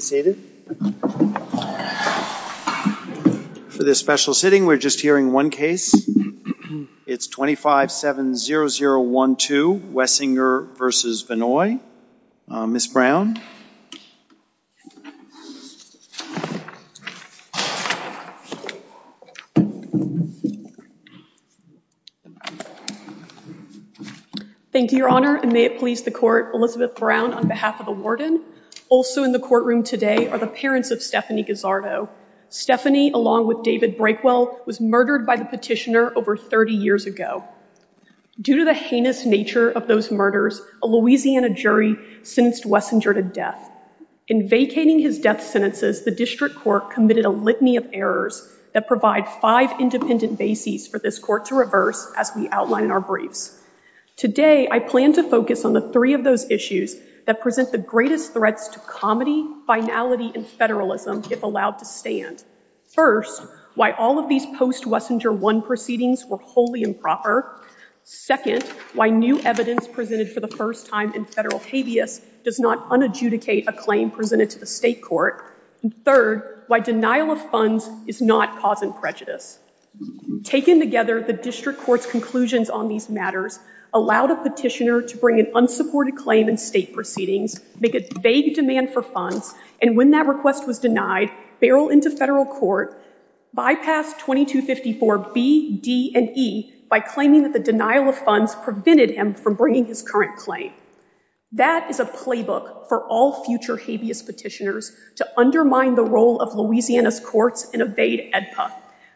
For this special sitting, we're just hearing one case. It's 2570012, Wessinger v. Vannoy. Ms. Brown? Thank you, Your Honor, and may it please the Court, Elizabeth Brown, on behalf of the Warden, Also in the courtroom today are the parents of Stephanie Gazzardo. Stephanie, along with David Breakwell, was murdered by the petitioner over 30 years ago. Due to the heinous nature of those murders, a Louisiana jury sentenced Wessinger to death. In vacating his death sentences, the District Court committed a litany of errors that provide five independent bases for this Court to reverse, as we outline in our briefs. Today, I plan to focus on the three of those issues that present the greatest threats to comedy, finality, and federalism if allowed to stand. First, why all of these post-Wessinger 1 proceedings were wholly improper. Second, why new evidence presented for the first time in federal habeas does not unadjudicate a claim presented to the State Court. And third, why denial of funds is not cause and prejudice. Taken together, the District Court's conclusions on these matters allowed a petitioner to bring an unsupported claim in State proceedings, make a vague demand for funds, and when that request was denied, barrel into federal court, bypass 2254B, D, and E by claiming that the denial of funds prevented him from bringing his current claim. That is a playbook for all future habeas petitioners to undermine the role of Louisiana's courts and evade AEDPA.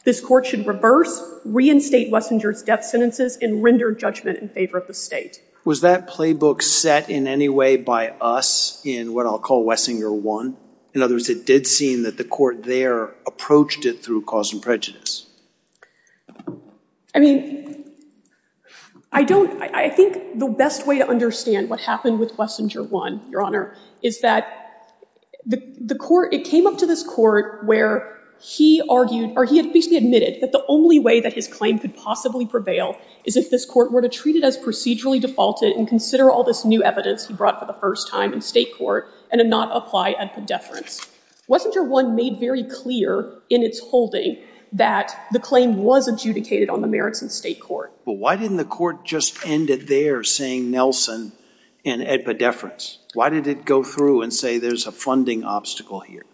This Court should reverse, reinstate Wessinger's death sentences, and render judgment in favor of the State. Was that playbook set in any way by us in what I'll call Wessinger 1? In other words, it did seem that the Court there approached it through cause and prejudice. I mean, I don't, I think the best way to understand what happened with Wessinger 1, Your Honor, is that the Court, it came up to this Court where he argued, or he at least admitted that the only way that his claim could possibly prevail is if this Court were to treat it as procedurally defaulted and consider all this new evidence he brought for the first time in State Court and not apply a deference. Wessinger 1 made very clear in its holding that the claim was adjudicated on the merits in State Court. But why didn't the Court just end it there saying Nelson and AEDPA deference? Why did it go through and say there's a funding obstacle here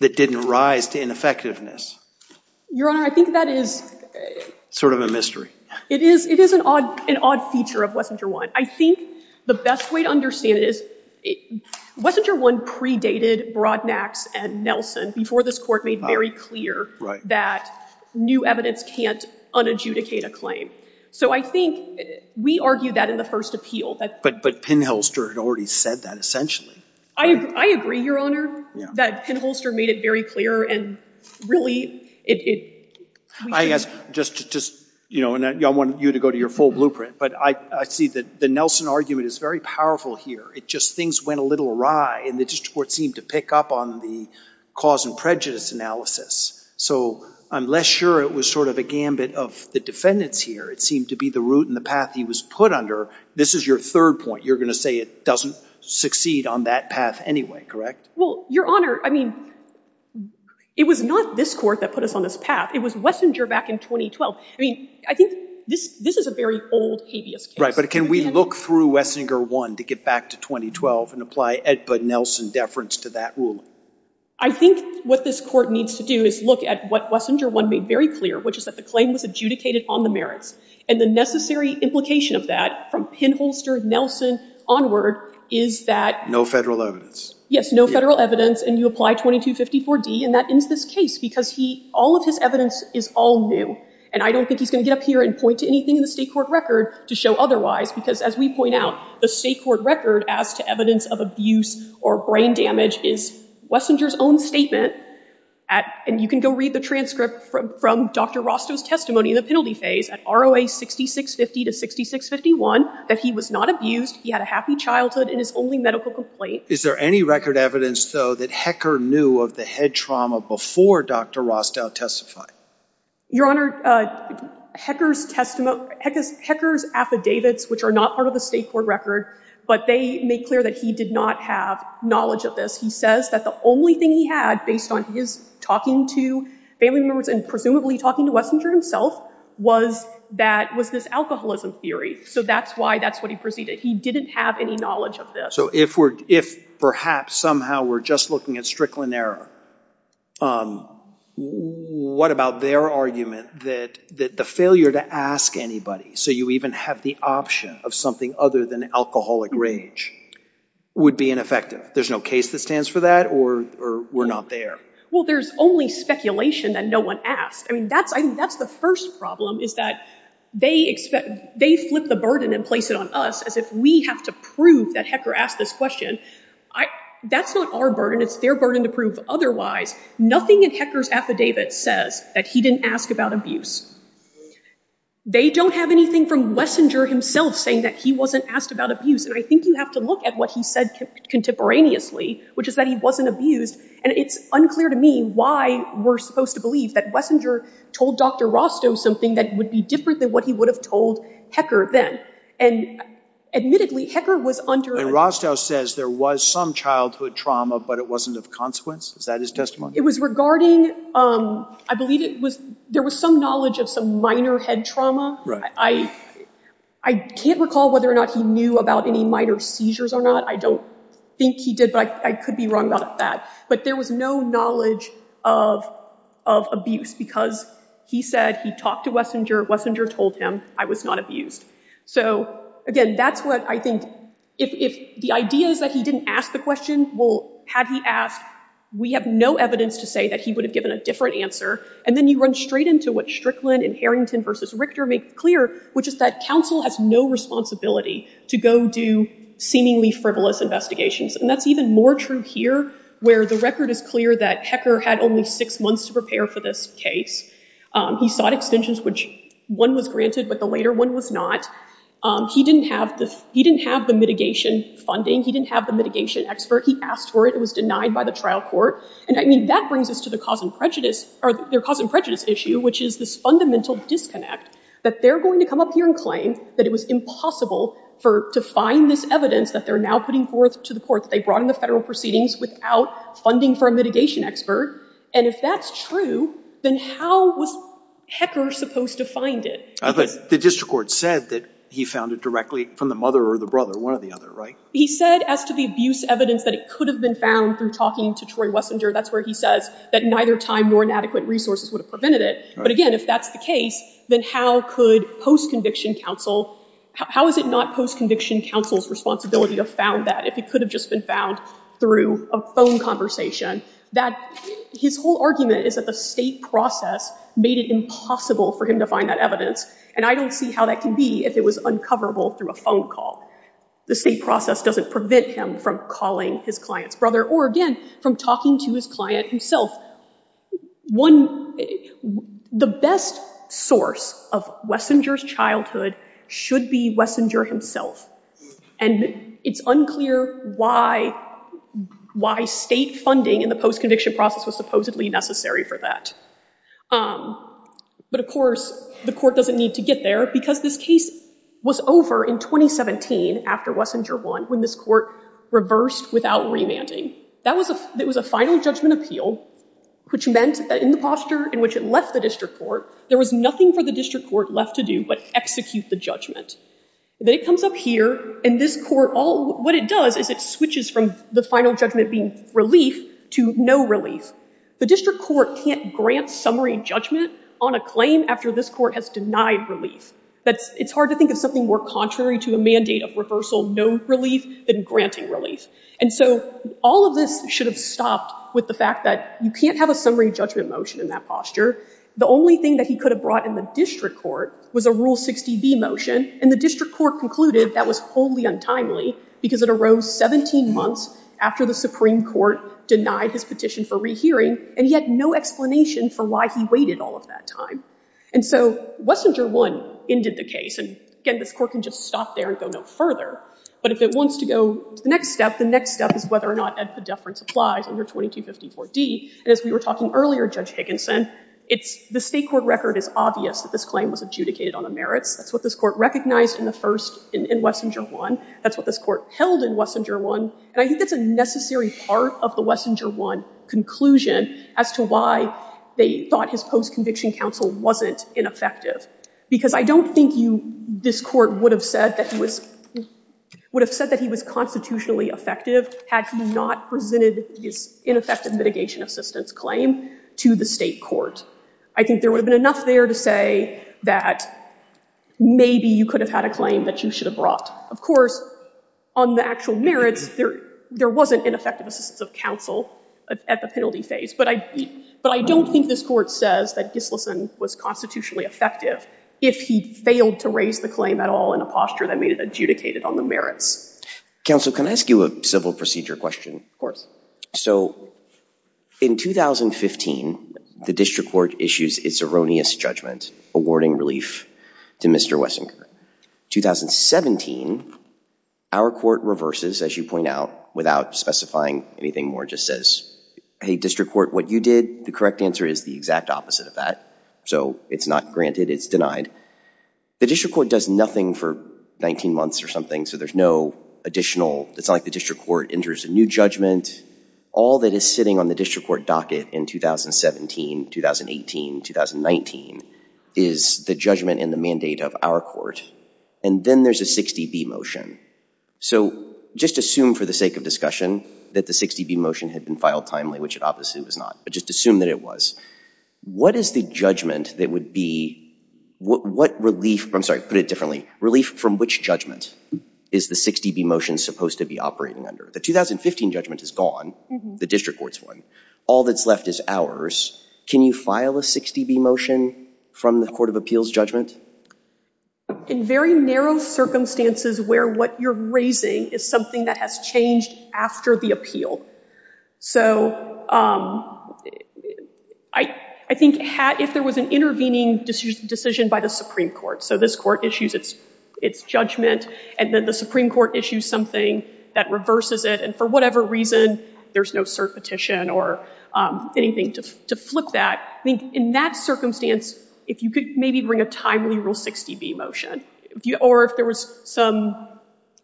that didn't rise to ineffectiveness? Your Honor, I think that is... Sort of a mystery. It is, it is an odd, an odd feature of Wessinger 1. I think the best way to understand it is Wessinger 1 predated Brodnax and Nelson before this Court made very clear that new evidence can't unadjudicate a claim. So I think we argued that in the first appeal. But, but Pinholster had already said that essentially. I agree, Your Honor, that Pinholster made it very clear and really it... I guess just, just, you know, and I want you to go to your full blueprint, but I see that the Nelson argument is very powerful here. It just, things went a little awry and the District Court seemed to pick up on the cause and prejudice analysis. So I'm less sure it was sort of a gambit of the defendants here. It seemed to be the route and the path he was put under. This is your third point. You're going to say it doesn't succeed on that path anyway, correct? Well, Your Honor, I mean, it was not this Court that put us on this path. It was Wessinger back in 2012. I mean, I think this, this is a very old habeas case. Right, but can we look through Wessinger 1 to get back to 2012 and apply Edba Nelson deference to that ruling? I think what this Court needs to do is look at what Wessinger 1 made very clear, which is that the claim was adjudicated on the merits and the necessary implication of that from Pinholster, Nelson onward is that... No federal evidence. Yes, no federal evidence and you apply 2254D and that ends this case because he, all of his evidence is all new and I don't think he's going to get up here and point to anything in to show otherwise because as we point out, the state court record as to evidence of abuse or brain damage is Wessinger's own statement at, and you can go read the transcript from Dr. Rostow's testimony in the penalty phase at ROA 6650 to 6651, that he was not abused. He had a happy childhood and his only medical complaint. Is there any record evidence though that Hecker knew of the head trauma before Dr. Rostow testified? Your Honor, Hecker's testimony, Hecker's affidavits, which are not part of the state court record, but they make clear that he did not have knowledge of this. He says that the only thing he had based on his talking to family members and presumably talking to Wessinger himself was this alcoholism theory. So that's why that's what he proceeded. He didn't have any knowledge of this. So if perhaps somehow we're just looking at Strickland error, what about their argument that the failure to ask anybody, so you even have the option of something other than alcoholic rage, would be ineffective? There's no case that stands for that or we're not there? Well, there's only speculation that no one asked. I mean, I think that's the first problem is that they flip the burden and place it on us as if we have to prove that Hecker asked this question. That's not our burden. It's their burden to prove otherwise. Nothing in Hecker's affidavit says that he didn't ask about abuse. They don't have anything from Wessinger himself saying that he wasn't asked about abuse. And I think you have to look at what he said contemporaneously, which is that he wasn't abused. And it's unclear to me why we're supposed to believe that Wessinger told Dr. Rostow something that would be different than what he would have told Hecker then. And admittedly, Hecker was under And Rostow says there was some childhood trauma, but it wasn't of consequence. Is that his testimony? It was regarding, I believe it was, there was some knowledge of some minor head trauma. I can't recall whether or not he knew about any minor seizures or not. I don't think he did, but I could be wrong about that. But there was no knowledge of abuse because he said he talked to Wessinger, Wessinger told him, I was not abused. So again, that's what I think, if the idea is that he didn't ask the question, well, had he asked, we have no evidence to say that he would have given a different answer. And then you run straight into what Strickland and Harrington versus Richter make clear, which is that counsel has no responsibility to go do seemingly frivolous investigations. And that's even more true here, where the record is clear that Hecker had only six months to prepare for this case. He sought extensions, which one was granted, but the later one was not. He didn't have the mitigation funding. He didn't have the mitigation expert. He asked for it. It was denied by the trial court. And I mean, that brings us to the cause and prejudice or their cause and prejudice issue, which is this fundamental disconnect that they're going to come up here and claim that it was impossible to find this evidence that they're now putting forth to the court that they brought in the federal proceedings without funding for a trial. And if that's true, then how was Hecker supposed to find it? I think the district court said that he found it directly from the mother or the brother, one or the other, right? He said as to the abuse evidence that it could have been found through talking to Troy Wessinger. That's where he says that neither time nor inadequate resources would have prevented it. But again, if that's the case, then how could post-conviction counsel, how is it not post-conviction counsel's responsibility to have found that if it could have just been found through a phone conversation, that his whole argument is that the state process made it impossible for him to find that evidence. And I don't see how that can be if it was uncoverable through a phone call. The state process doesn't prevent him from calling his client's brother or, again, from talking to his client himself. The best source of Wessinger's childhood should be Wessinger himself. And it's unclear why state funding in the post-conviction process was supposedly necessary for that. But of course, the court doesn't need to get there because this case was over in 2017 after Wessinger won when this court reversed without remanding. That was a final judgment appeal, which meant that in the posture in which it left the district court, there was nothing for the district court left to do but execute the judgment. Then it comes up here, and this court, what it does is it switches from the final judgment being relief to no relief. The district court can't grant summary judgment on a claim after this court has denied relief. It's hard to think of something more contrary to a mandate of reversal, no relief, than granting relief. And so all of this should have stopped with the fact that you can't have a summary judgment motion in that posture. The only thing that he could have brought in the district court was a Rule 60B motion. And the district court concluded that was wholly untimely because it arose 17 months after the Supreme Court denied his petition for rehearing, and he had no explanation for why he waited all of that time. And so Wessinger won, ended the case. And again, this court can just stop there and go no further. But if it wants to go to the next step, the next step is whether or not epidephrine applies under 2254D. And as we were talking earlier, Judge Higginson, the state court record is obvious that this claim was adjudicated on the merits. That's what this court recognized in Wessinger won. That's what this court held in Wessinger won. And I think that's a necessary part of the Wessinger won conclusion as to why they thought his post-conviction counsel wasn't ineffective. Because I don't think this court would have said that he was constitutionally effective had he not presented his ineffective mitigation assistance claim to the state court. I think there would have been enough there to say that maybe you could have had a claim that you should have brought. Of course, on the actual merits, there wasn't ineffective assistance of counsel at the penalty phase. But I don't think this court says that Gislason was constitutionally effective if he failed to raise the claim at all in a posture that made it adjudicated on the merits. Counsel, can I ask you a civil procedure question? Of course. So in 2015, the district court issues its erroneous judgment awarding relief to Mr. Wessinger. 2017, our court reverses, as you point out, without specifying anything more, just says, hey, district court, what you did, the correct answer is the exact opposite of that. So it's not granted. It's denied. The district court does nothing for 19 months or something. So there's no additional, it's not like the district court enters a new judgment. All that is sitting on the district court docket in 2017, 2018, 2019 is the judgment and the mandate of our court. And then there's a 60B motion. So just assume for the sake of discussion that the 60B motion had been filed timely, which it obviously was not. But just assume that it was. What is the judgment that would be, what relief, I'm sorry, put it differently, relief from which judgment is the 60B motion supposed to be operating under? The 2015 judgment is gone. The district court's one. All that's left is ours. Can you file a 60B motion from the court of appeals judgment? In very narrow circumstances where what you're raising is something that has changed after the appeal. So I think if there was an intervening decision by the Supreme Court, so this court issues its judgment, and then the Supreme Court issues something that reverses it, and for whatever reason, there's no cert petition or anything to flip that, I think in that circumstance, if you could maybe bring a timely rule 60B motion, or if there was some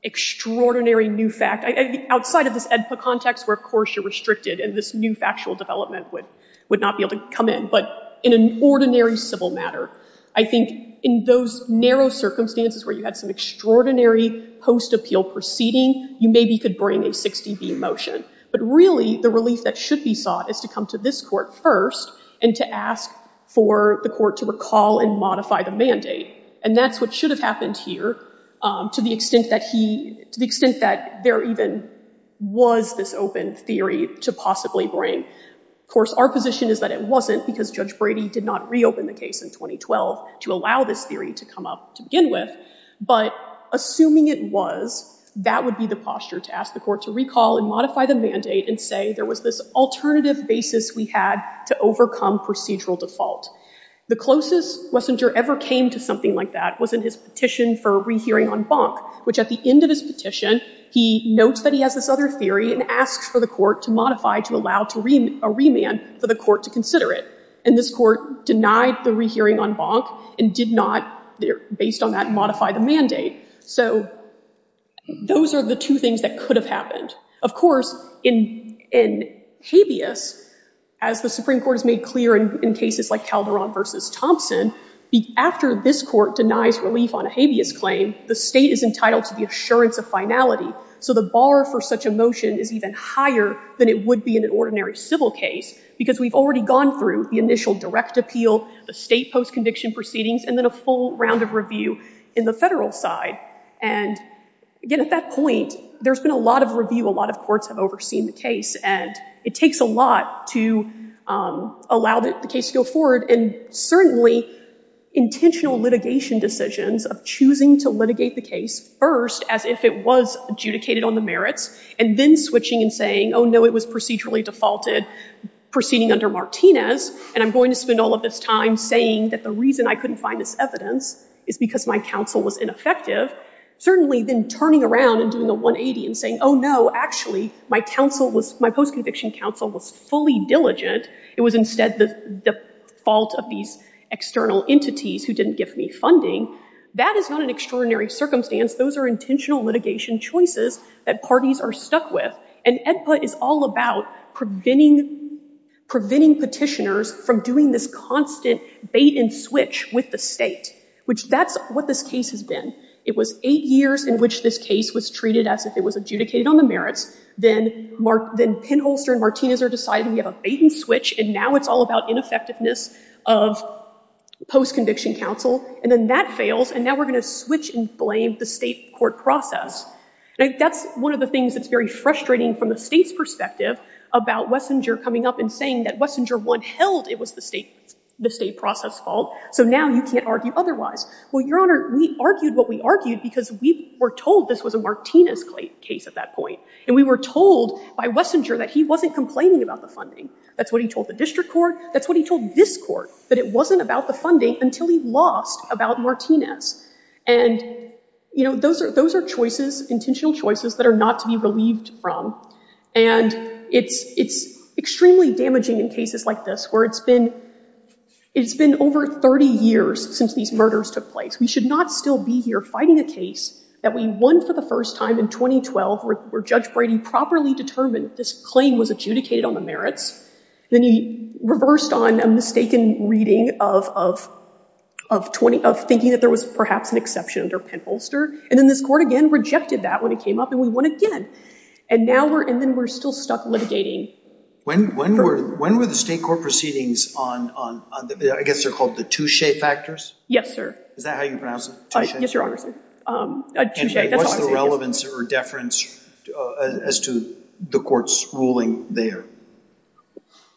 extraordinary new fact, outside of this AEDPA context where, of course, you're restricted and this new factual development would not be able to come in. But in an ordinary civil matter, I think in those narrow circumstances where you had some extraordinary post-appeal proceeding, you maybe could bring a 60B motion. But really, the relief that should be sought is to come to this court first and to ask for the court to recall and modify the mandate. And that's what should have happened here, to the extent that there even was this open theory to possibly bring. Of course, our position is that it wasn't because Judge Brady did not reopen the case in 2012 to allow this theory to come up to begin with. But assuming it was, that would be the posture to ask the court to recall and modify the mandate and say there was this alternative basis we had to overcome procedural default. The closest Wessinger ever came to something like that was in his petition for rehearing en banc, which at the end of his petition, he notes that he has this other theory and asks for the court to modify to allow a remand for the court to consider it. And this court denied the rehearing en banc and did not, based on that, modify the mandate. So those are the two things that could have happened. Of course, in habeas, as the Supreme Court denies relief on a habeas claim, the state is entitled to the assurance of finality. So the bar for such a motion is even higher than it would be in an ordinary civil case, because we've already gone through the initial direct appeal, the state post-conviction proceedings, and then a full round of review in the federal side. And again, at that point, there's been a lot of review. A lot of courts have overseen the case. And it takes a lot to allow the case to go forward. And certainly, intentional litigation decisions of choosing to litigate the case first, as if it was adjudicated on the merits, and then switching and saying, oh, no, it was procedurally defaulted, proceeding under Martinez, and I'm going to spend all of this time saying that the reason I couldn't find this evidence is because my counsel was ineffective, certainly then turning around and doing a 180 and saying, oh, no, actually, my post-conviction counsel was fully diligent. It was instead the fault of these external entities who didn't give me funding. That is not an extraordinary circumstance. Those are intentional litigation choices that parties are stuck with. And AEDPA is all about preventing petitioners from doing this constant bait and switch with the state, which that's what this case has been. It was eight years in which this case was treated as if it was adjudicated on the merits. Then Pinholster and Martinez are deciding we have a bait and switch. And now it's all about ineffectiveness of post-conviction counsel. And then that fails. And now we're going to switch and blame the state court process. That's one of the things that's very frustrating from the state's perspective about Wessinger coming up and saying that Wessinger 1 held it was the state process fault. So now you can't argue otherwise. Well, Your Honor, we argued what we argued because we were told this was a Martinez case at that point. And we were told by Wessinger that he wasn't complaining about the funding. That's what he told the district court. That's what he told this court, that it wasn't about the funding until he lost about Martinez. And those are choices, intentional choices that are not to be relieved from. And it's extremely damaging in cases like this where it's been over 30 years since these murders took place. We should not still be here that we won for the first time in 2012 where Judge Brady properly determined this claim was adjudicated on the merits. Then he reversed on a mistaken reading of thinking that there was perhaps an exception under Pentholster. And then this court again rejected that when it came up. And we won again. And then we're still stuck litigating. When were the state court proceedings on I guess they're called the touche factors? Yes, sir. Is that how you pronounce it? Yes, your honor, sir. Touche, that's how I say it. And what's the relevance or deference as to the court's ruling there?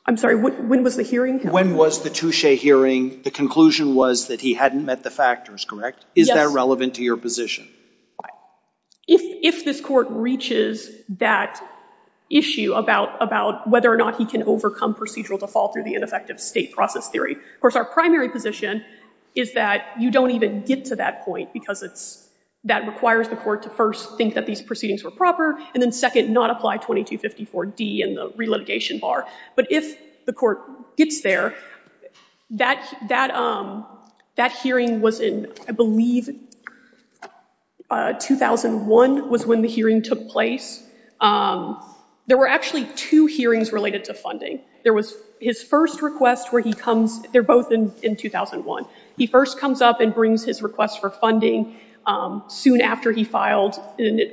I'm sorry, when was the hearing? When was the touche hearing? The conclusion was that he hadn't met the factors, correct? Is that relevant to your position? If this court reaches that issue about whether or not he can overcome procedural default or the ineffective state process theory. Of course, our primary position is that you don't even get to that point because that requires the court to first think that these proceedings were proper. And then second, not apply 2254D in the re-litigation bar. But if the court gets there, that hearing was in I believe 2001 was when the hearing took place. There were actually two hearings related to funding. There was his first request where he they're both in 2001. He first comes up and brings his request for funding soon after he filed,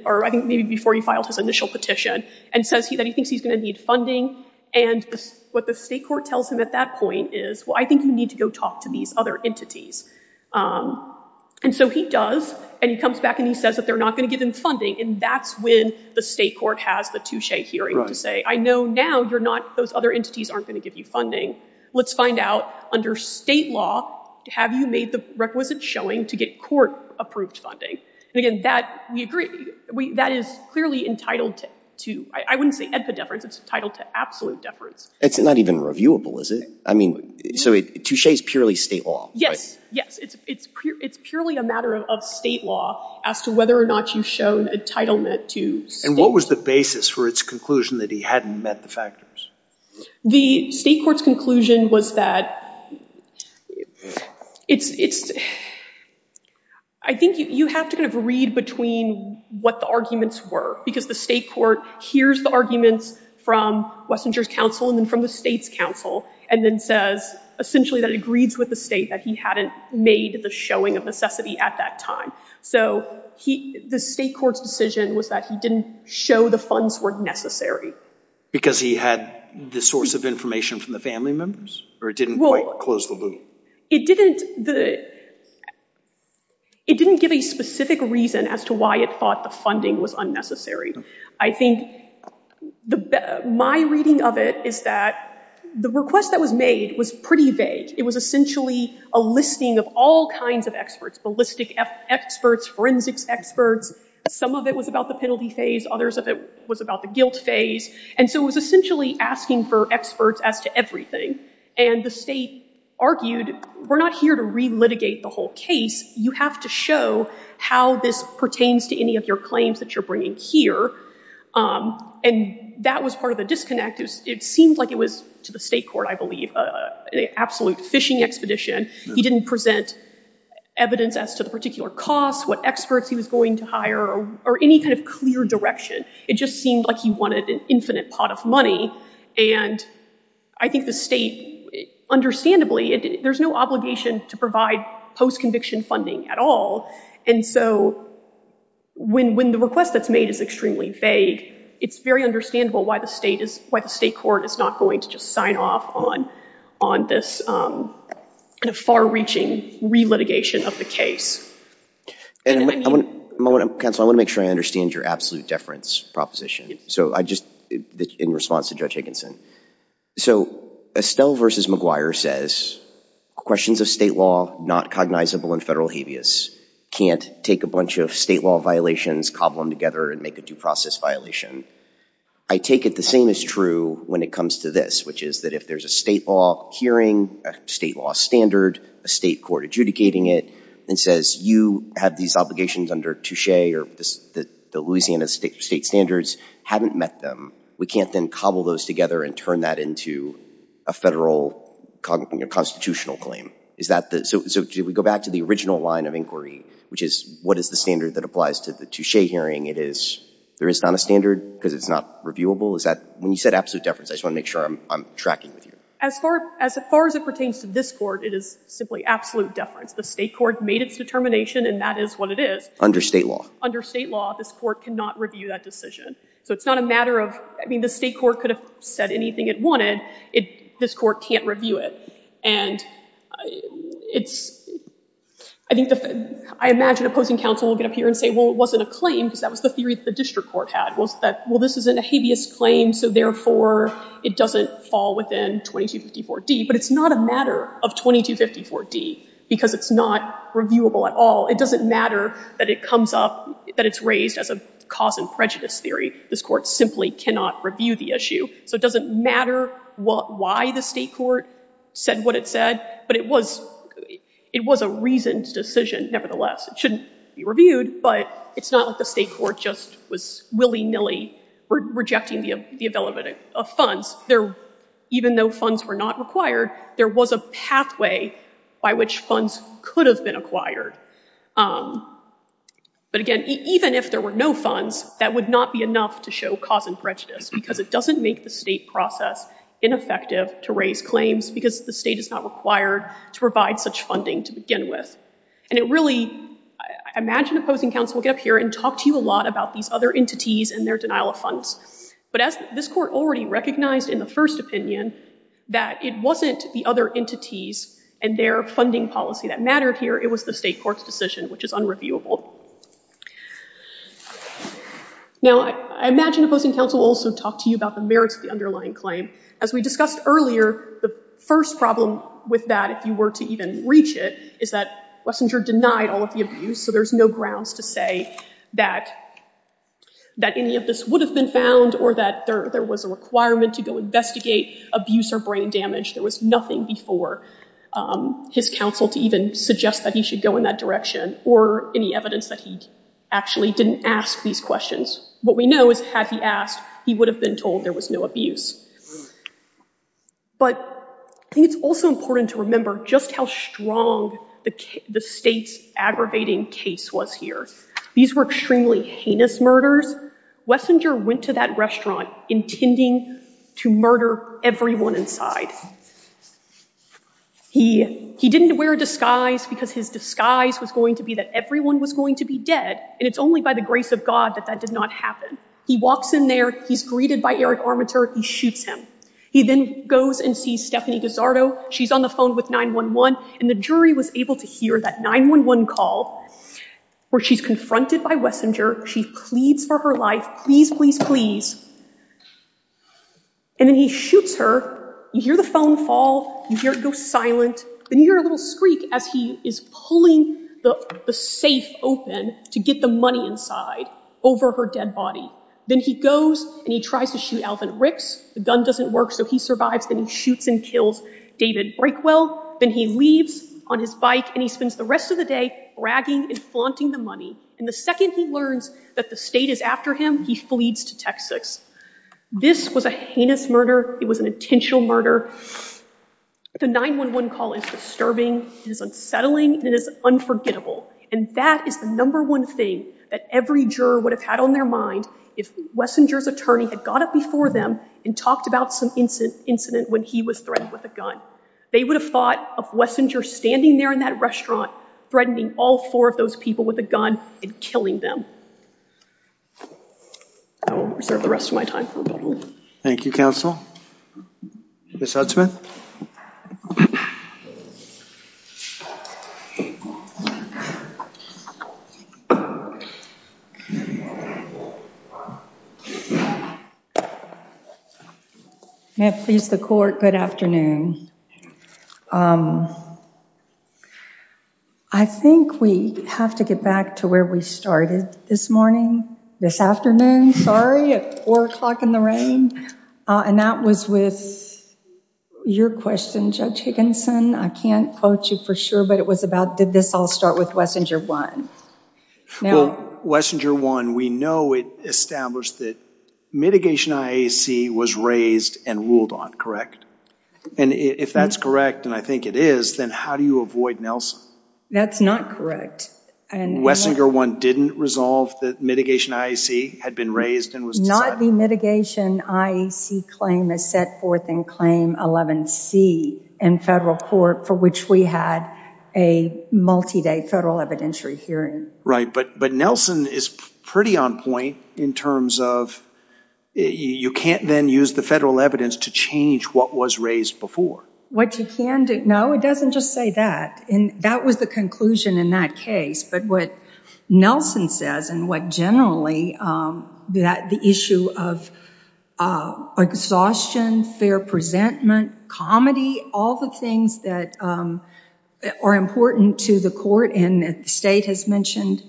or I think maybe before he filed his initial petition, and says that he thinks he's going to need funding. And what the state court tells him at that point is, well, I think you need to go talk to these other entities. And so he does. And he comes back and he says that they're not going to give him funding. And that's when the state court has the touche hearing to say, I know now you're not, those other entities aren't going to give you funding. Let's find out under state law, have you made the requisite showing to get court-approved funding? And again, that, we agree, that is clearly entitled to, I wouldn't say epideference, it's entitled to absolute deference. It's not even reviewable, is it? I mean, so touche is purely state law. Yes, yes. It's purely a matter of state law as to whether or not you've shown entitlement to. And what was the basis for its conclusion that he hadn't met the factors? The state court's conclusion was that it's, I think you have to kind of read between what the arguments were. Because the state court hears the arguments from Wessinger's counsel and then from the state's counsel, and then says, essentially, that it agrees with the state that he hadn't made the showing of necessity at that time. So the state court's decision was that he didn't show the funds were necessary. Because he had the source of information from the family members? Or it didn't quite close the loop? It didn't, it didn't give a specific reason as to why it thought the funding was unnecessary. I think my reading of it is that the request that was made was pretty vague. It was essentially a listing of all kinds of experts, ballistic experts, forensics experts. Some of it was about the penalty phase. Others of it was about the guilt phase. And so it was essentially asking for experts as to everything. And the state argued, we're not here to re-litigate the whole case. You have to show how this pertains to any of your claims that you're bringing here. And that was part of the disconnect. It seemed like it was, to the state court, I believe, an absolute fishing expedition. He didn't present evidence as to the particular costs, what experts he was going to hire, or any kind of clear direction. It just seemed like he wanted an infinite pot of money. And I think the state, understandably, there's no obligation to provide post-conviction funding at all. And so when the request that's made is extremely vague, it's very understandable why the state court is not going to just sign off on this far-reaching re-litigation of the case. And counsel, I want to make sure I understand your absolute deference proposition. So I just, in response to Judge Higginson. So Estelle v. McGuire says, questions of state law not cognizable in federal habeas can't take a bunch of state law violations, cobble them together, and make a due process violation. I take it the same is true when it comes to this, which is that if there's a state law hearing, a state law standard, a state court adjudicating it, and says, you have these obligations under Touche, or the Louisiana state standards, haven't met them, we can't then cobble those together and turn that into a federal constitutional claim. So if we go back to the original line of inquiry, which is, what is the standard that applies to the Touche hearing? There is not a standard because it's not reviewable? Is that, when you said absolute deference, I just want to make sure I'm tracking with you. As far as it pertains to this court, it is simply absolute deference. The state court made its determination, and that is what it is. Under state law. Under state law, this court cannot review that decision. So it's not a matter of, I mean, the state court could said anything it wanted. This court can't review it. And it's, I think the, I imagine opposing counsel will get up here and say, well, it wasn't a claim, because that was the theory that the district court had, was that, well, this isn't a habeas claim, so therefore, it doesn't fall within 2254D. But it's not a matter of 2254D, because it's not reviewable at all. It doesn't matter that it comes up, that it's raised as a cause and prejudice theory. This court simply cannot review the issue. So it doesn't matter what, why the state court said what it said, but it was, it was a reasoned decision, nevertheless. It shouldn't be reviewed, but it's not like the state court just was willy-nilly rejecting the development of funds. There, even though funds were not required, there was a pathway by which funds could have been acquired. But again, even if there were no funds, that would not be enough to show cause and prejudice, because it doesn't make the state process ineffective to raise claims, because the state is not required to provide such funding to begin with. And it really, I imagine opposing counsel will get up here and talk to you a lot about these other entities and their denial of funds. But as this court already recognized in the first opinion, that it wasn't the other entities and their funding policy that mattered here, it was the state court's decision, which is unreviewable. Now, I imagine opposing counsel also talked to you about the merits of the underlying claim. As we discussed earlier, the first problem with that, if you were to even reach it, is that Wessinger denied all of the abuse. So there's no grounds to say that, that any of this would have been found or that there was a requirement to go investigate abuse or brain damage. There was nothing before his counsel to even suggest that he should go in that direction or any evidence that he actually didn't ask these questions. What we know is had he asked, he would have been told there was no abuse. But I think it's also important to remember just how strong the state's aggravating case was here. These were extremely heinous murders. Wessinger went to that restaurant intending to murder everyone inside. He didn't wear a disguise because his disguise was going to be that everyone was going to be dead. And it's only by the grace of God that that did not happen. He walks in there, he's greeted by Eric Armitage, he shoots him. He then goes and sees Stephanie Gazzardo. She's on the phone with 911 and the jury was able to hear that 911 call where she's confronted by Wessinger. She pleads for her life, please, please, please. And then he shoots her. You hear the phone ring, the phone fall, you hear it go silent. Then you hear a little screak as he is pulling the safe open to get the money inside over her dead body. Then he goes and he tries to shoot Alvin Ricks. The gun doesn't work, so he survives. Then he shoots and kills David Breakwell. Then he leaves on his bike and he spends the rest of the day bragging and flaunting the money. And the second he learns that the state is after him, he flees to Texas. This was a heinous murder. It was an intentional murder. The 911 call is disturbing, it is unsettling, and it is unforgettable. And that is the number one thing that every juror would have had on their mind if Wessinger's attorney had got up before them and talked about some incident when he was threatened with a gun. They would have thought of Wessinger standing there in that restaurant threatening all four of those people with a gun and killing them. I will reserve the rest of my time. Thank you, counsel. Ms. Huntsman. May it please the court, good afternoon. I think we have to get back to where we started this morning, this afternoon, sorry, at four o'clock in the rain. And that was with your question, Judge Higginson. I can't quote you for sure, but it was about did this all start with Wessinger 1? Well, Wessinger 1, we know it established that mitigation IAC was raised and ruled on, correct? And if that's correct, and I think it is, then how do you avoid Nelson? That's not correct. And Wessinger 1 didn't resolve that mitigation IAC had been raised and was decided. Not the mitigation IAC claim is set forth in claim 11C in federal court for which we had a multi-day federal evidentiary hearing. Right, but Nelson is pretty on point in terms of you can't then use the federal evidence to change what was raised before. What you can do, no, it doesn't just say that. And that was the conclusion in that case. But what Nelson says and what generally the issue of exhaustion, fair presentment, comedy, all the things that are important to the court and that the state has mentioned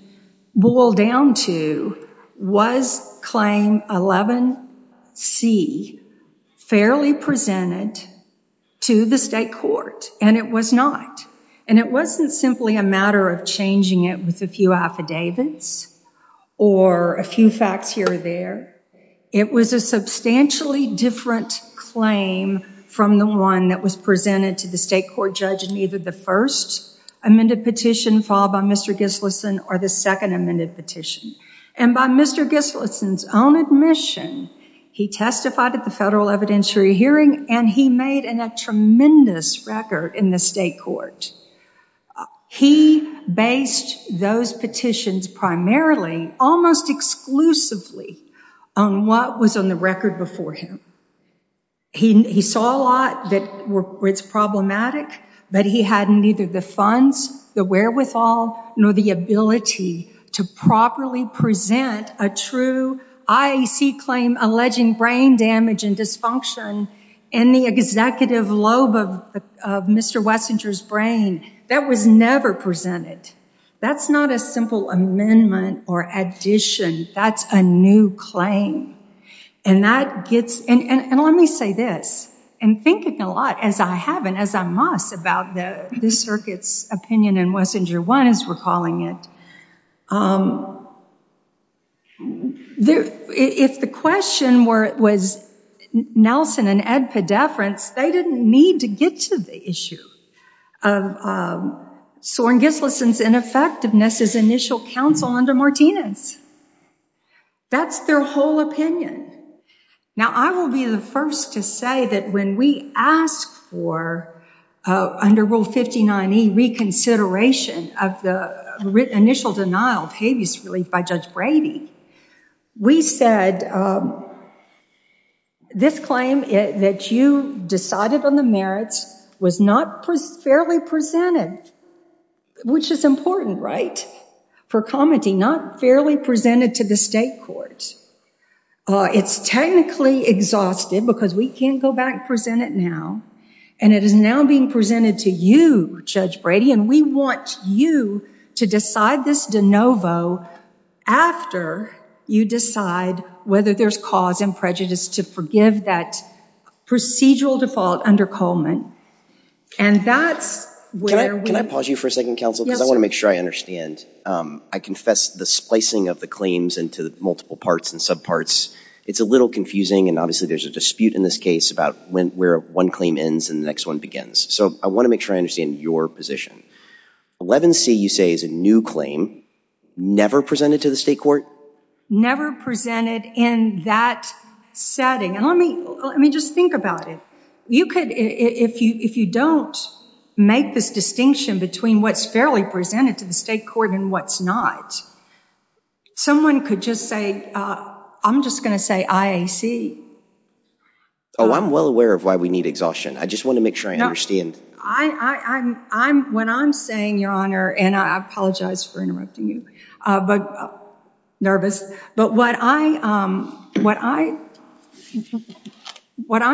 boiled down to was claim 11C fairly presented to the state court? And it was not. And it wasn't simply a matter of changing it with a few affidavits or a few facts here or there. It was a substantially different claim from the one that was presented to the state court judge in either the first amended petition followed by Mr. Gislason or the second amended petition. And by Mr. Gislason's own admission, he testified at the federal evidentiary hearing and he made a tremendous record in the state court. He based those petitions primarily almost exclusively on what was on the record before him. He saw a lot that were problematic, but he hadn't either the funds, the wherewithal, nor the ability to properly present a true IAC claim alleging brain damage and dysfunction in the executive lobe of Mr. Wessinger's brain. That was never presented. That's not a simple amendment or addition. That's a new claim. And let me say this. I'm thinking a lot, as I have and as I must, about the circuit's opinion in Wessinger 1, as we're calling it. If the question was Nelson and Ed Pedefrans, they didn't need to get to the issue of Soren Gislason's ineffectiveness as initial counsel under Martinez. That's their whole opinion. Now, I will be the first to say that when we ask for, under Rule 59E, reconsideration of the initial denial of habeas relief by Judge Brady, we said this claim that you decided on the merits was not fairly presented, which is important, right, for commenting, not fairly presented to the state court. It's technically exhausted because we can't go back and present it and it is now being presented to you, Judge Brady, and we want you to decide this de novo after you decide whether there's cause and prejudice to forgive that procedural default under Coleman. And that's where we... Can I pause you for a second, counsel, because I want to make sure I understand. I confess the splicing of the claims into multiple parts and subparts, it's a little confusing and obviously there's a dispute in this case about where one claim ends and the next one begins. So I want to make sure I understand your position. 11C, you say, is a new claim, never presented to the state court? Never presented in that setting. And let me just think about it. You could, if you don't make this distinction between what's fairly presented to the state court and what's not, someone could just say, I'm just going to say IAC. Oh, I'm well aware of why we need exhaustion. I just want to make sure I understand. When I'm saying, Your Honor, and I apologize for interrupting you, but, nervous, but what I'm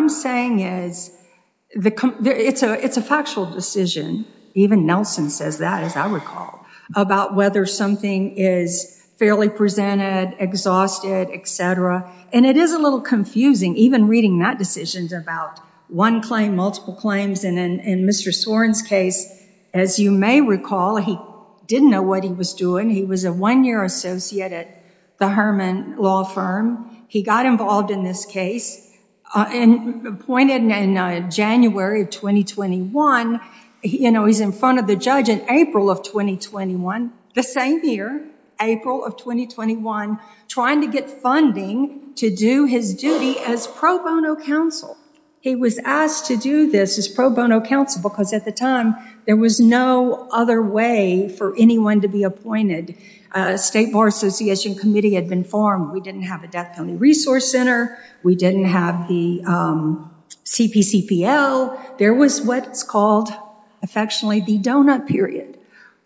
saying is, it's a factual decision. Even Nelson says that, as I recall, about whether something is fairly presented, exhausted, et cetera. And it is a little confusing, even reading that decision about one claim, multiple claims. And in Mr. Soren's case, as you may recall, he didn't know he was doing. He was a one-year associate at the Herman Law Firm. He got involved in this case and appointed in January of 2021. You know, he's in front of the judge in April of 2021, the same year, April of 2021, trying to get funding to do his duty as pro bono counsel. He was asked to do this as pro bono counsel because at the time there was no other way for anyone to be appointed. State Bar Association Committee had been formed. We didn't have a Death County Resource Center. We didn't have the CPCPL. There was what's called, affectionately, the donut period,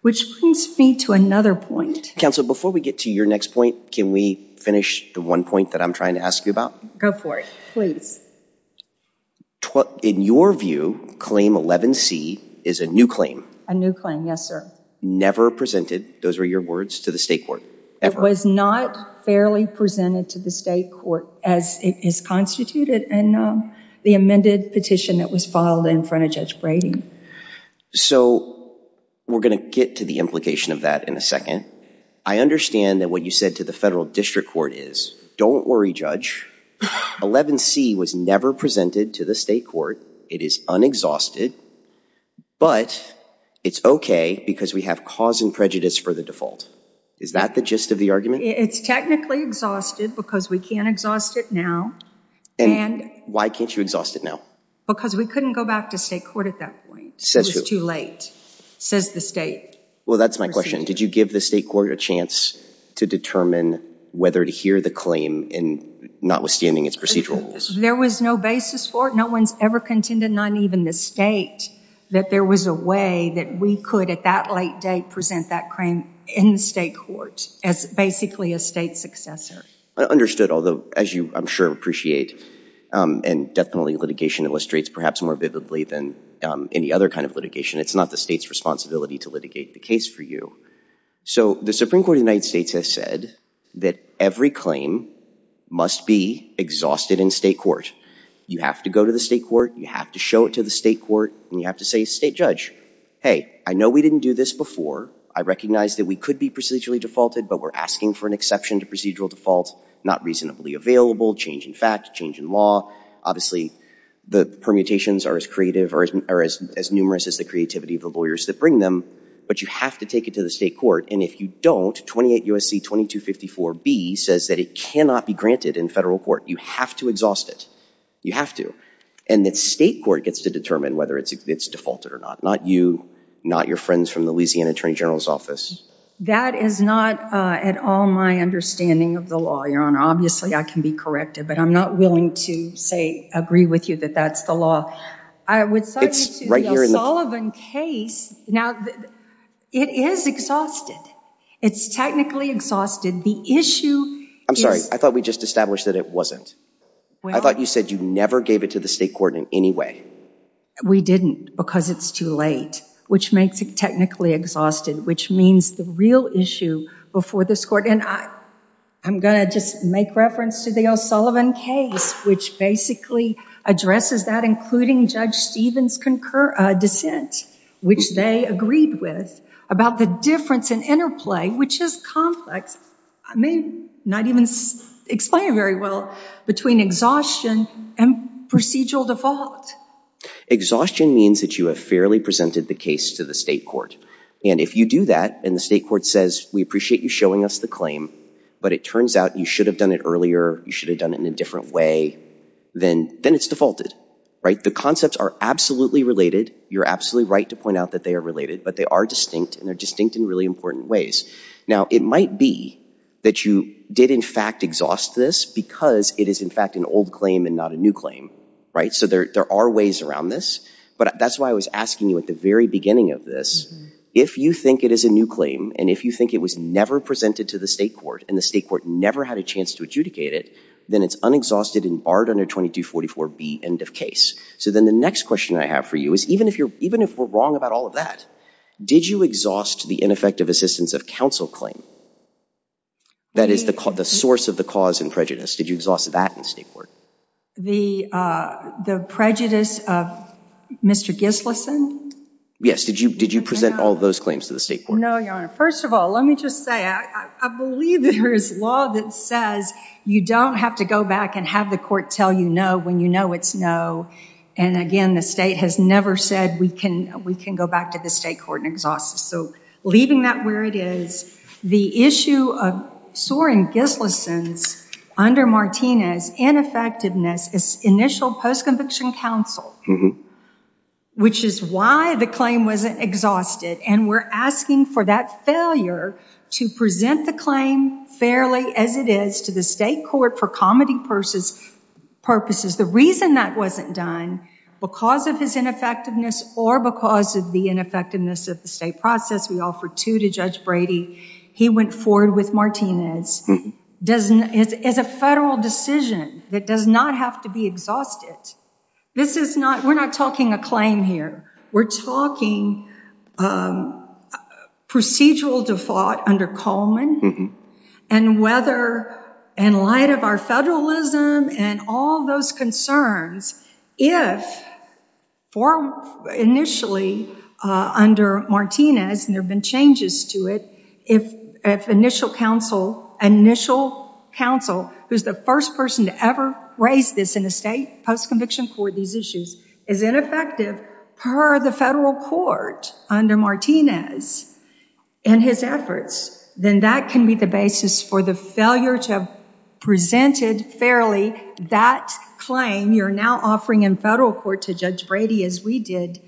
which brings me to another point. Counsel, before we get to your next point, can we finish the one point that I'm trying to ask you about? Go for it, please. In your view, Claim 11C is a new claim? A new claim, yes, sir. Never presented, those were your words, to the state court? It was not fairly presented to the state court as it is constituted in the amended petition that was filed in front of Judge Brady. So we're going to get to the implication of that in a second. I understand that what you said to federal district court is, don't worry, Judge. 11C was never presented to the state court. It is unexhausted, but it's okay because we have cause and prejudice for the default. Is that the gist of the argument? It's technically exhausted because we can't exhaust it now. Why can't you exhaust it now? Because we couldn't go back to state court at that point. It was too late, says the state. Well, that's my question. Did you give the state court a chance to determine whether to hear the claim in not withstanding its procedural rules? There was no basis for it. No one's ever contended, not even the state, that there was a way that we could, at that late date, present that claim in the state court as, basically, a state successor. I understood. Although, as you, I'm sure, appreciate, and death penalty litigation illustrates perhaps more vividly than any other kind of litigation, it's not the state's responsibility to litigate the case for you. So the Supreme Court of the United States has said that every claim must be exhausted in state court. You have to go to the state court, you have to show it to the state court, and you have to say to the state judge, hey, I know we didn't do this before. I recognize that we could be procedurally defaulted, but we're asking for an exception to procedural default, not reasonably available, change in fact, change in law. Obviously, the permutations are as creative or as numerous as the creativity of the lawyers that bring them, but you have to take it to the state court, and if you don't, 28 U.S.C. 2254b says that it cannot be granted in federal court. You have to exhaust it. You have to. And the state court gets to determine whether it's defaulted or not. Not you, not your friends from the Louisiana Attorney General's office. That is not at all my understanding of the law, Your Honor. Obviously, I can be corrected, but I'm not willing to say, agree with you that that's the law. I would cite you to the O'Sullivan case. Now, it is exhausted. It's technically exhausted. The issue is... I'm sorry. I thought we just established that it wasn't. I thought you said you never gave it to the state court in any way. We didn't because it's too late, which makes it technically exhausted, which means the real issue before this court, and I'm going to just make reference to the O'Sullivan case, which basically addresses that, including Judge Stephen's dissent, which they agreed with, about the difference in interplay, which is complex. I may not even explain it very well, between exhaustion and procedural default. Exhaustion means that you have fairly presented the case to the state court, and if you do that and the state court says, we appreciate you showing us the claim, but it turns out you should have done it earlier, you should have done it in a different way, then it's defaulted. The concepts are absolutely related. You're absolutely right to point out that they are related, but they are distinct, and they're distinct in really important ways. Now, it might be that you did, in fact, exhaust this because it is, in fact, an old claim and not a new claim. There are ways around this, but that's why I was asking you at the very beginning of this, if you think it is a new claim, and if you think it was never presented to the state court, never had a chance to adjudicate it, then it's unexhausted and barred under 2244B, end of case. So then the next question I have for you is, even if we're wrong about all of that, did you exhaust the ineffective assistance of counsel claim? That is the source of the cause and prejudice. Did you exhaust that in the state court? The prejudice of Mr. Gislason? Yes. Did you present all those claims to the state court? No, Your Honor. First of all, let me just say, I believe there is law that says you don't have to go back and have the court tell you no when you know it's no. And again, the state has never said we can go back to the state court and exhaust it. So leaving that where it is, the issue of Soren Gislason's, under Martinez, ineffectiveness is initial post-conviction counsel, which is why the claim wasn't exhausted. And we're asking for that failure to present the claim fairly as it is to the state court for comedy purposes. The reason that wasn't done because of his ineffectiveness or because of the ineffectiveness of the state process, we offer two to Judge Brady. He went forward with Martinez. It's a federal decision that does not have to be We're not talking a claim here. We're talking procedural default under Coleman and whether, in light of our federalism and all those concerns, if initially under Martinez, and there have been changes to it, if initial counsel, initial counsel, who's the first person to ever raise this in the state post-conviction court, these issues, is ineffective per the federal court under Martinez and his efforts, then that can be the basis for the failure to have presented fairly that claim you're now offering in federal court to Judge Brady as we did.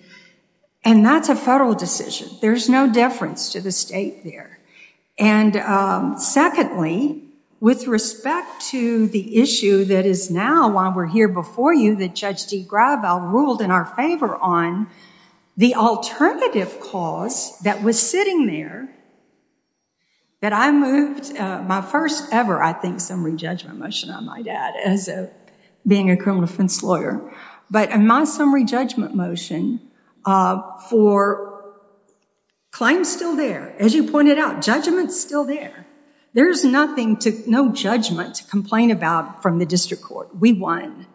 And that's a federal decision. There's no difference to the state there. And secondly, with respect to the issue that is now, while we're here before you, that Judge DeGrave ruled in our favor on the alternative cause that was sitting there, that I moved my first ever, I think, summary judgment motion, I might add, as a being a criminal defense lawyer. But my summary judgment motion for, claim's still there. As you pointed out, judgment's still there. There's nothing to, no judgment to complain about from the district court. We won.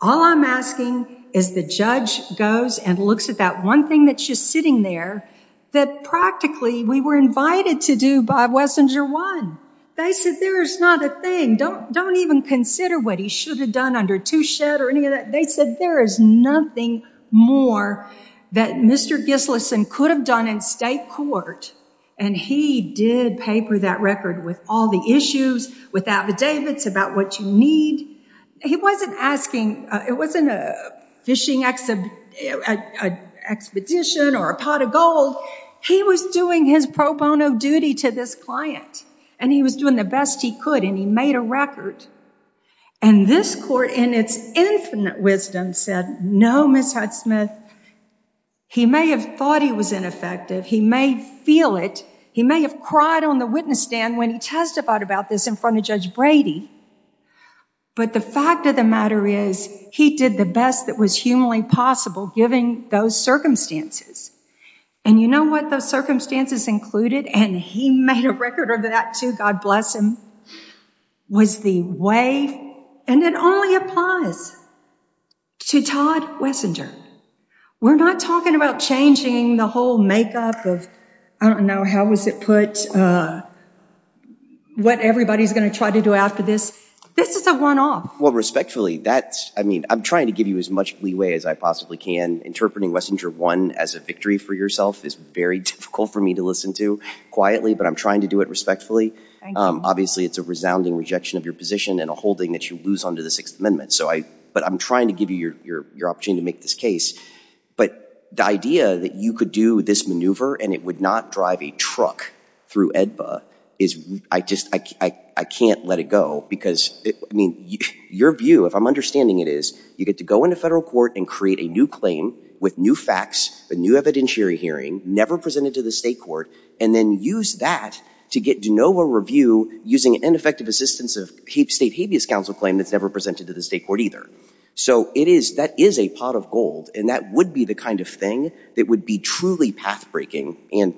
All I'm asking is the judge goes and looks at that one thing that's just sitting there that practically we were invited to do by Wessinger won. They said there is not a thing. Don't even consider what he should have done under Touchet or any of that. They said there is nothing more that Mr. Gislason could have done in state court. And he did paper that record with all the issues, with affidavits about what you need. He wasn't asking, it wasn't a fishing expedition or a pot of gold. He was doing his pro bono duty to this client. And he was doing the best he could. And he made a record. And this court in its infinite wisdom said, no, Ms. Hudsmith, he may have thought he was ineffective. He may feel it. He may have cried on the witness stand when he testified about this in front of Judge Brady. But the fact of the matter is, he did the best that was humanly possible given those circumstances. And you know what? Those circumstances included, and he made a record of that too, God bless him, was the way, and it only applies to Todd Wessinger. We're not talking about changing the whole makeup of, I don't know, how was it put, what everybody's going to try to do after this. This is a one-off. Well, respectfully, that's, I mean, I'm trying to give you as much leeway as I possibly can interpreting Wessinger won as a victory for yourself is very difficult for me to listen to quietly. But I'm trying to do it respectfully. Obviously, it's a resounding rejection of your position and a holding that you lose under the Sixth Amendment. But I'm trying to give you your opportunity to make this case. But the idea that you could do this maneuver and it would not drive a truck through AEDPA is, I just, I can't let it go. Because, I mean, your view, if I'm understanding it is, you get to go into federal court and create a new claim with new facts, a new evidentiary hearing, never presented to the state court, and then use that to get de novo review using ineffective assistance of state habeas counsel claim that's never presented to the state court either. So it is, that is a pot of gold. And that would be the kind of thing that would be truly pathbreaking and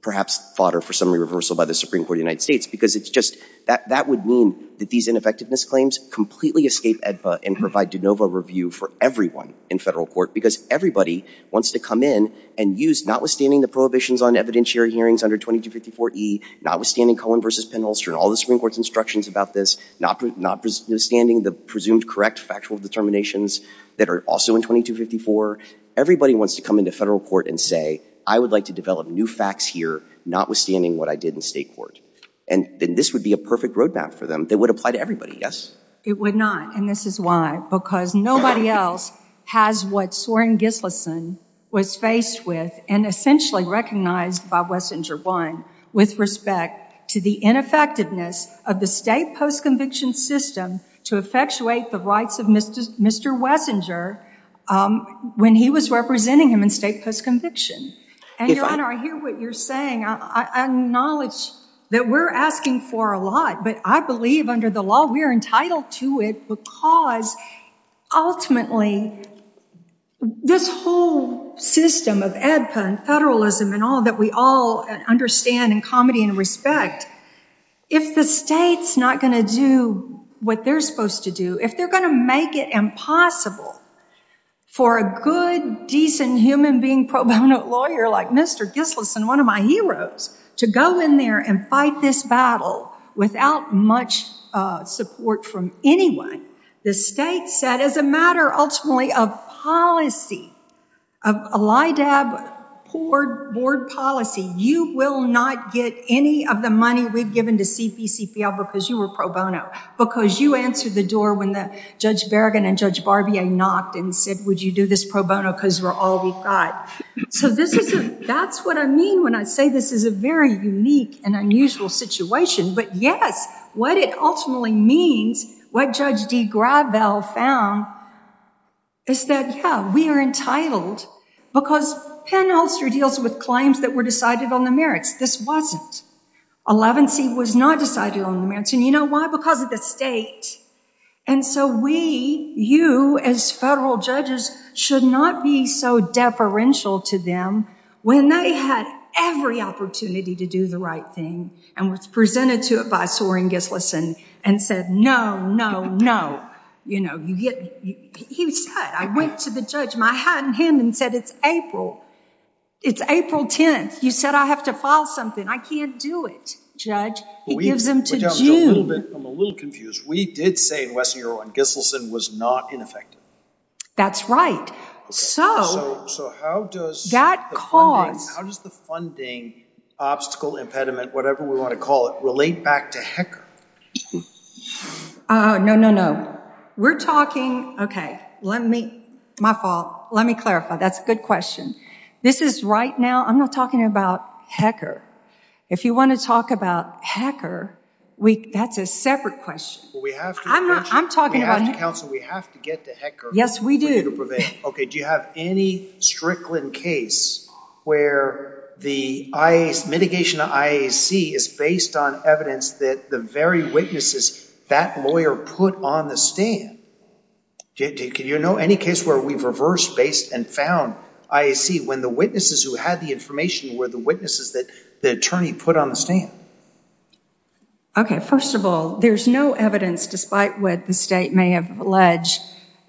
perhaps fodder for summary reversal by the Supreme Court of the United States. Because it's just, that would mean that these ineffectiveness claims completely escape and provide de novo review for everyone in federal court. Because everybody wants to come in and use, notwithstanding the prohibitions on evidentiary hearings under 2254E, notwithstanding Cohen versus Penholster and all the Supreme Court's instructions about this, notwithstanding the presumed correct factual determinations that are also in 2254, everybody wants to come into federal court and say, I would like to develop new facts here, notwithstanding what I did in state court. And then this would be a perfect roadmap for them. That would apply to everybody, yes? It would not. And this is why, because nobody else has what Soren Gislason was faced with and essentially recognized by Wessinger I with respect to the ineffectiveness of the state post-conviction system to effectuate the rights of Mr. Wessinger when he was representing him in state post-conviction. And Your Honor, I hear what you're saying. I acknowledge that we're asking for a lot, but I believe under the law we're entitled to it because ultimately this whole system of AEDPA and federalism and all that we all understand and comedy and respect, if the state's not going to do what they're supposed to do, if they're going to make it impossible for a good, decent human being, pro bono lawyer like Mr. Gislason, one of my heroes, to go in there and fight this battle without much support from anyone, the state said as a matter ultimately of policy, of LIDAB board policy, you will not get any of the money we've given to CPCPL because you were pro bono, because you answered the door when Judge Berrigan and Judge Barbier knocked and said, would you do this pro bono because we're all we've got. So this isn't, that's what I mean when I say this is a very unique and unusual situation, but yes, what it ultimately means, what Judge D. Gravel found is that, yeah, we are entitled because Penn-Ulster deals with claims that were decided on the merits. This wasn't. Elevency was not decided on the merits. And you know why? Because of the state. And so we, you as federal judges, should not be so deferential to them when they had every opportunity to do the right thing and was presented to it by Soren Gislason and said, no, no, no. You know, you get, he said, I went to the judge and I had him and said, it's April. It's April 10th. You said, I have to file something. I can't do it. Judge, he gives them to you. I'm a little confused. We did say in West New York, Gislason was not ineffective. That's right. So how does that cause, how does the funding obstacle impediment, whatever we want to call it, relate back to HECR? No, no, no. We're talking. Okay. Let me, my fault. Let me clarify. That's a good question. This is right now. I'm not talking about HECR. If you want to talk about HECR, we, that's a separate question. I'm not, I'm talking about HECR. We have to get to HECR. Yes, we do. Okay. Do you have any Strickland case where the IAC, mitigation of IAC is based on evidence that the very witnesses that lawyer put on the stand? Can you know any case where we've reversed based and found IAC when the witnesses who had the information were the witnesses that the attorney put on the stand? Okay. First of all, there's no evidence, despite what the state may have alleged,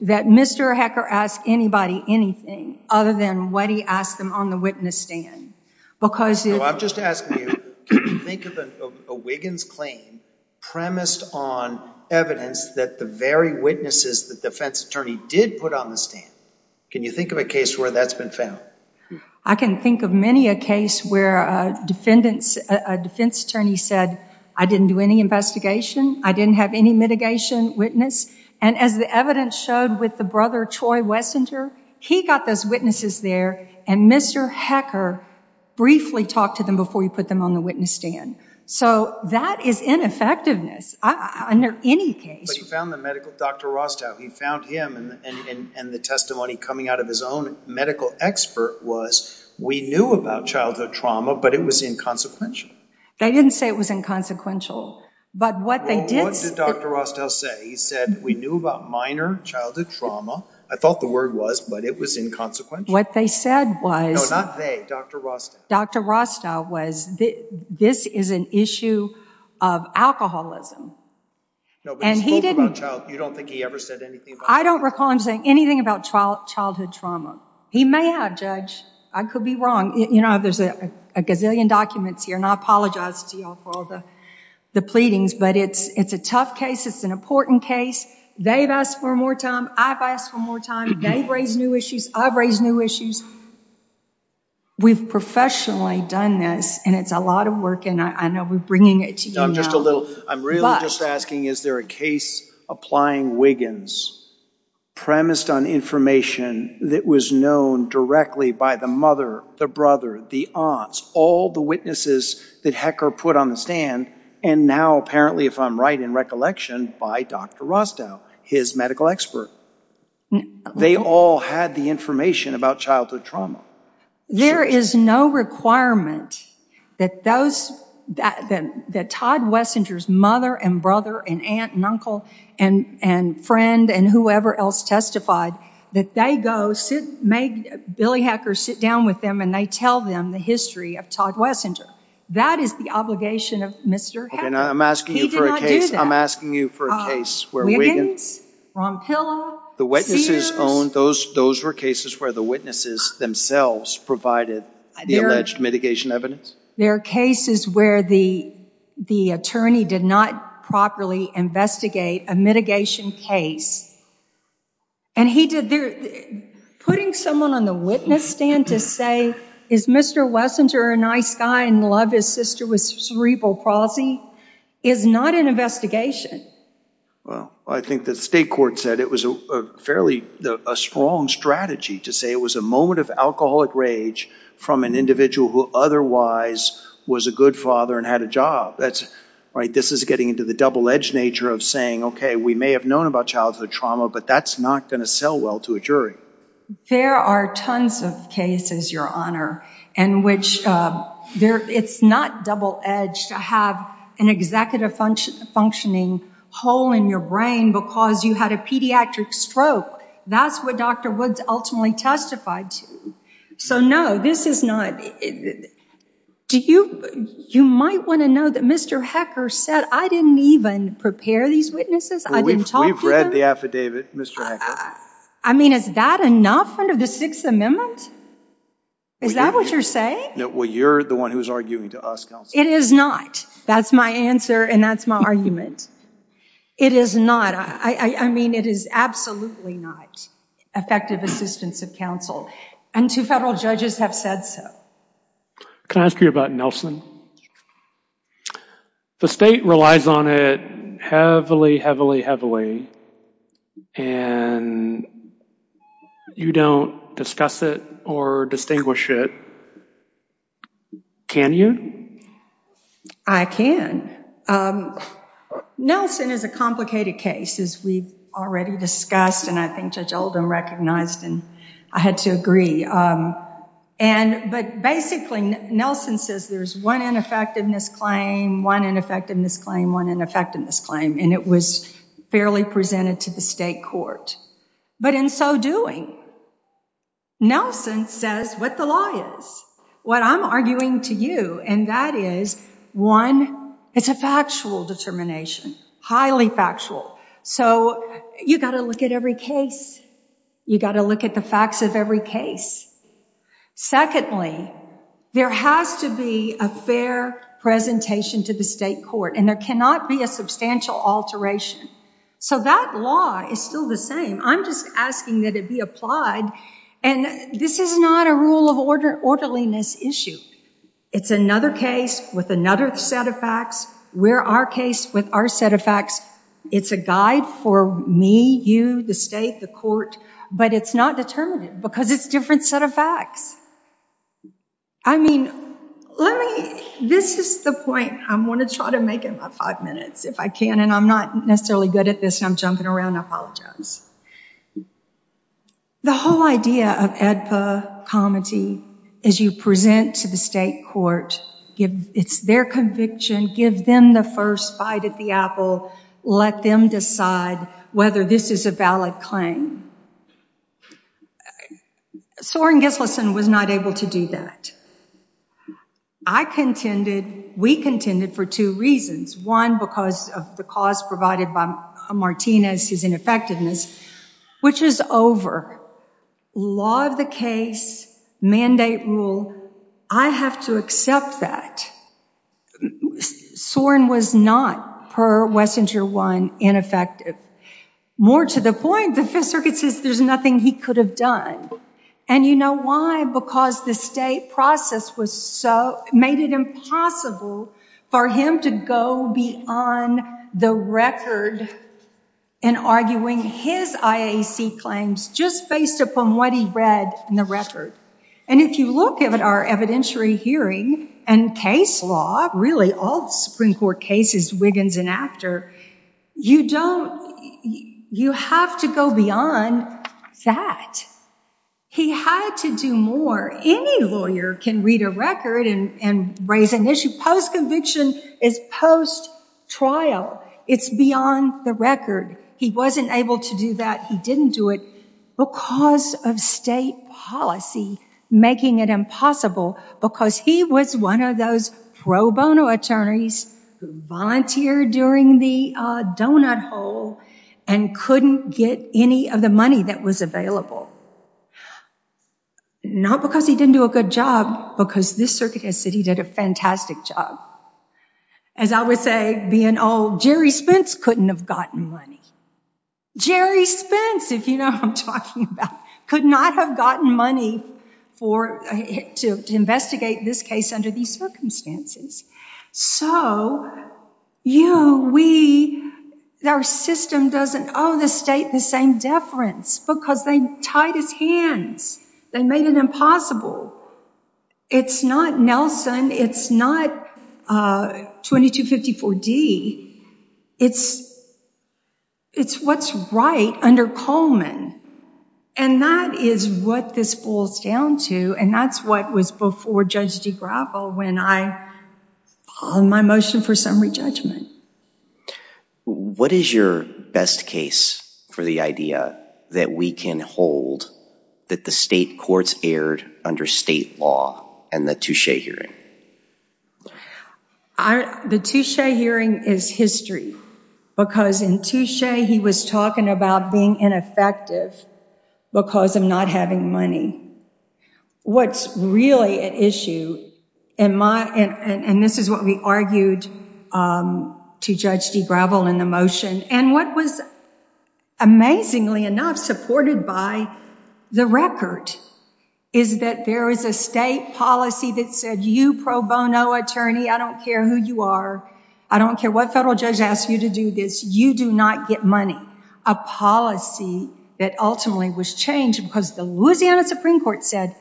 that Mr. HECR asked anybody anything other than what he asked them on the witness stand. Because I'm just asking you, can you think of a Wiggins claim premised on evidence that the very witnesses that defense attorney did put on the stand? Can you think of a case where that's been found? I can think of many a case where a defendants, a defense attorney said, I didn't do any investigation. I didn't have any mitigation witness. And as the evidence showed with the brother, Troy Wessenter, he got those witnesses there and Mr. HECR briefly talked to them before he put them on the witness stand. So that is ineffectiveness under any case. But he found the medical, Dr. Rostow, he found him and the testimony coming out of his own medical expert was, we knew about childhood trauma, but it was inconsequential. They didn't say it was inconsequential, but what they did... What did Dr. Rostow say? He said, we knew about minor childhood trauma. I thought the word was, but it was inconsequential. What they said was... No, not they, Dr. Rostow. Dr. Rostow was, this is an issue of alcoholism. No, but he spoke about child... You don't think he ever said anything about... I don't recall him saying anything about childhood trauma. He may have, Judge. I could be wrong. There's a gazillion documents here and I apologize to you all for all the pleadings, but it's a tough case. It's an important case. They've asked for more time. I've asked for more time. They've raised new issues. I've raised new issues. We've professionally done this and it's a lot of work and I know we're bringing it to you now. I'm just a little... I'm really just asking, is there a case applying Wiggins premised on information that was known directly by the mother, the brother, the aunts, all the witnesses that Hecker put on the stand and now apparently, if I'm right in recollection, by Dr. Rostow, his medical expert. They all had the information about childhood trauma. There is no requirement that Todd Wessinger's mother and brother and aunt and uncle and friend and whoever else testified, that they go sit, make Billy Hecker sit down with them and they tell them the history of Todd Wessinger. That is the obligation of Mr. Hecker. Okay, now I'm asking you for a case. I'm asking you for a case where Wiggins, Rompillo, the witnesses owned, those were cases where the witnesses themselves provided the alleged mitigation evidence? There are cases where the attorney did not properly investigate a mitigation case and he did... Putting someone on the witness stand to say, is Mr. Wessinger a nice guy and love his sister with cerebral palsy, is not an investigation. Well, I think the state court said it was a fairly strong strategy to say it was a moment of alcoholic rage from an individual who otherwise was a good father and had a job. This is getting into the double-edged nature of saying, okay, we may have known about childhood trauma, but that's not going to sell well to a jury. There are tons of cases, Your Honor, in which it's not double-edged to have an executive functioning hole in your brain because you had a pediatric stroke. That's what Dr. Woods ultimately testified to. So no, this is not... You might want to know that Mr. Hecker said, I didn't even prepare these witnesses. I didn't talk to them. We've read the affidavit, Mr. Hecker. I mean, is that enough under the Sixth Amendment? Is that what you're saying? Well, you're the one who's arguing to us, counsel. It is not. That's my answer and that's my argument. It is not. I mean, it is absolutely not effective assistance of counsel, and two federal judges have said so. Can I ask you about Nelson? The state relies on it heavily, heavily, heavily, and you don't discuss it or distinguish it. Can you? I can. Nelson is a complicated case, as we've already discussed, and I think Judge Oldham recognized, and I had to agree. But basically, Nelson says there's one ineffectiveness claim, one ineffectiveness claim, one ineffectiveness claim, and it was fairly presented to the state court. But in so doing, Nelson says what the law is, what I'm arguing to you, and that is, one, it's a factual determination, highly factual. So you've got to look at every case. You've got to look at the facts of every case. Secondly, there has to be a fair presentation to the state court, and there cannot be a substantial alteration. So that law is still the same. I'm just asking that it be applied, and this is not a rule of orderliness issue. It's another case with another set of facts. We're our case with our set of facts. It's a guide for me, you, the state, the court, but it's not determinative because it's a different set of facts. I mean, this is the point I'm going to try to make in my five minutes if I can, and I'm not necessarily good at this. I'm jumping around. I apologize. The whole idea of AEDPA, comity, as you present to the state court, it's their conviction. Give them the first bite at the apple. Let them decide whether this is a valid claim. Soren Gislason was not able to do that. I contended, we contended for two reasons. One, because of the cause provided by Martinez, his ineffectiveness, which is over. Law of the case, mandate rule, I have to accept that. Soren was not, per Wessinger 1, ineffective. More to the point, the Fifth Circuit says there's nothing he could have done, and you know why? Because the state process was so, made it impossible for him to go beyond the record in arguing his IAC claims, just based upon what he read in the record. And if you look at our evidentiary hearing and case law, really all the Supreme Court cases, Wiggins and after, you don't, you have to go beyond that. He had to do more. Any lawyer can read a record and raise an issue. Post-conviction is post-trial. It's beyond the record. He wasn't able to do that. He didn't do it because of state policy making it impossible, because he was one of those pro bono attorneys who volunteered during the donut hole and couldn't get any of the money that was available. Not because he didn't do a good job, because this circuit has said he did a fantastic job. As I would say, being old, Jerry Spence couldn't have gotten money. Jerry Spence, if you know who I'm talking about, could not have gotten money for, to investigate this case under these circumstances. So you, we, our system doesn't owe the state the same deference because they tied his hands. They made it impossible. It's not Nelson. It's not 2254D. It's, it's what's right under Coleman. And that is what this boils down to. And that's what was before Judge DeGraffo when I, on my motion for summary judgment. What is your best case for the idea that we can hold that the state courts erred under state law and the Touche hearing? The Touche hearing is history because in Touche he was talking about being ineffective because of not having money. What's really at issue in my, and this is what we argued to Judge DeGraffo in the motion, and what was amazingly enough supported by the record, is that there is a state policy that said, you pro bono attorney, I don't care who you are. I don't care what federal judge asks you to do this. You do not get money. A policy that ultimately was changed because the Louisiana Supreme Court said,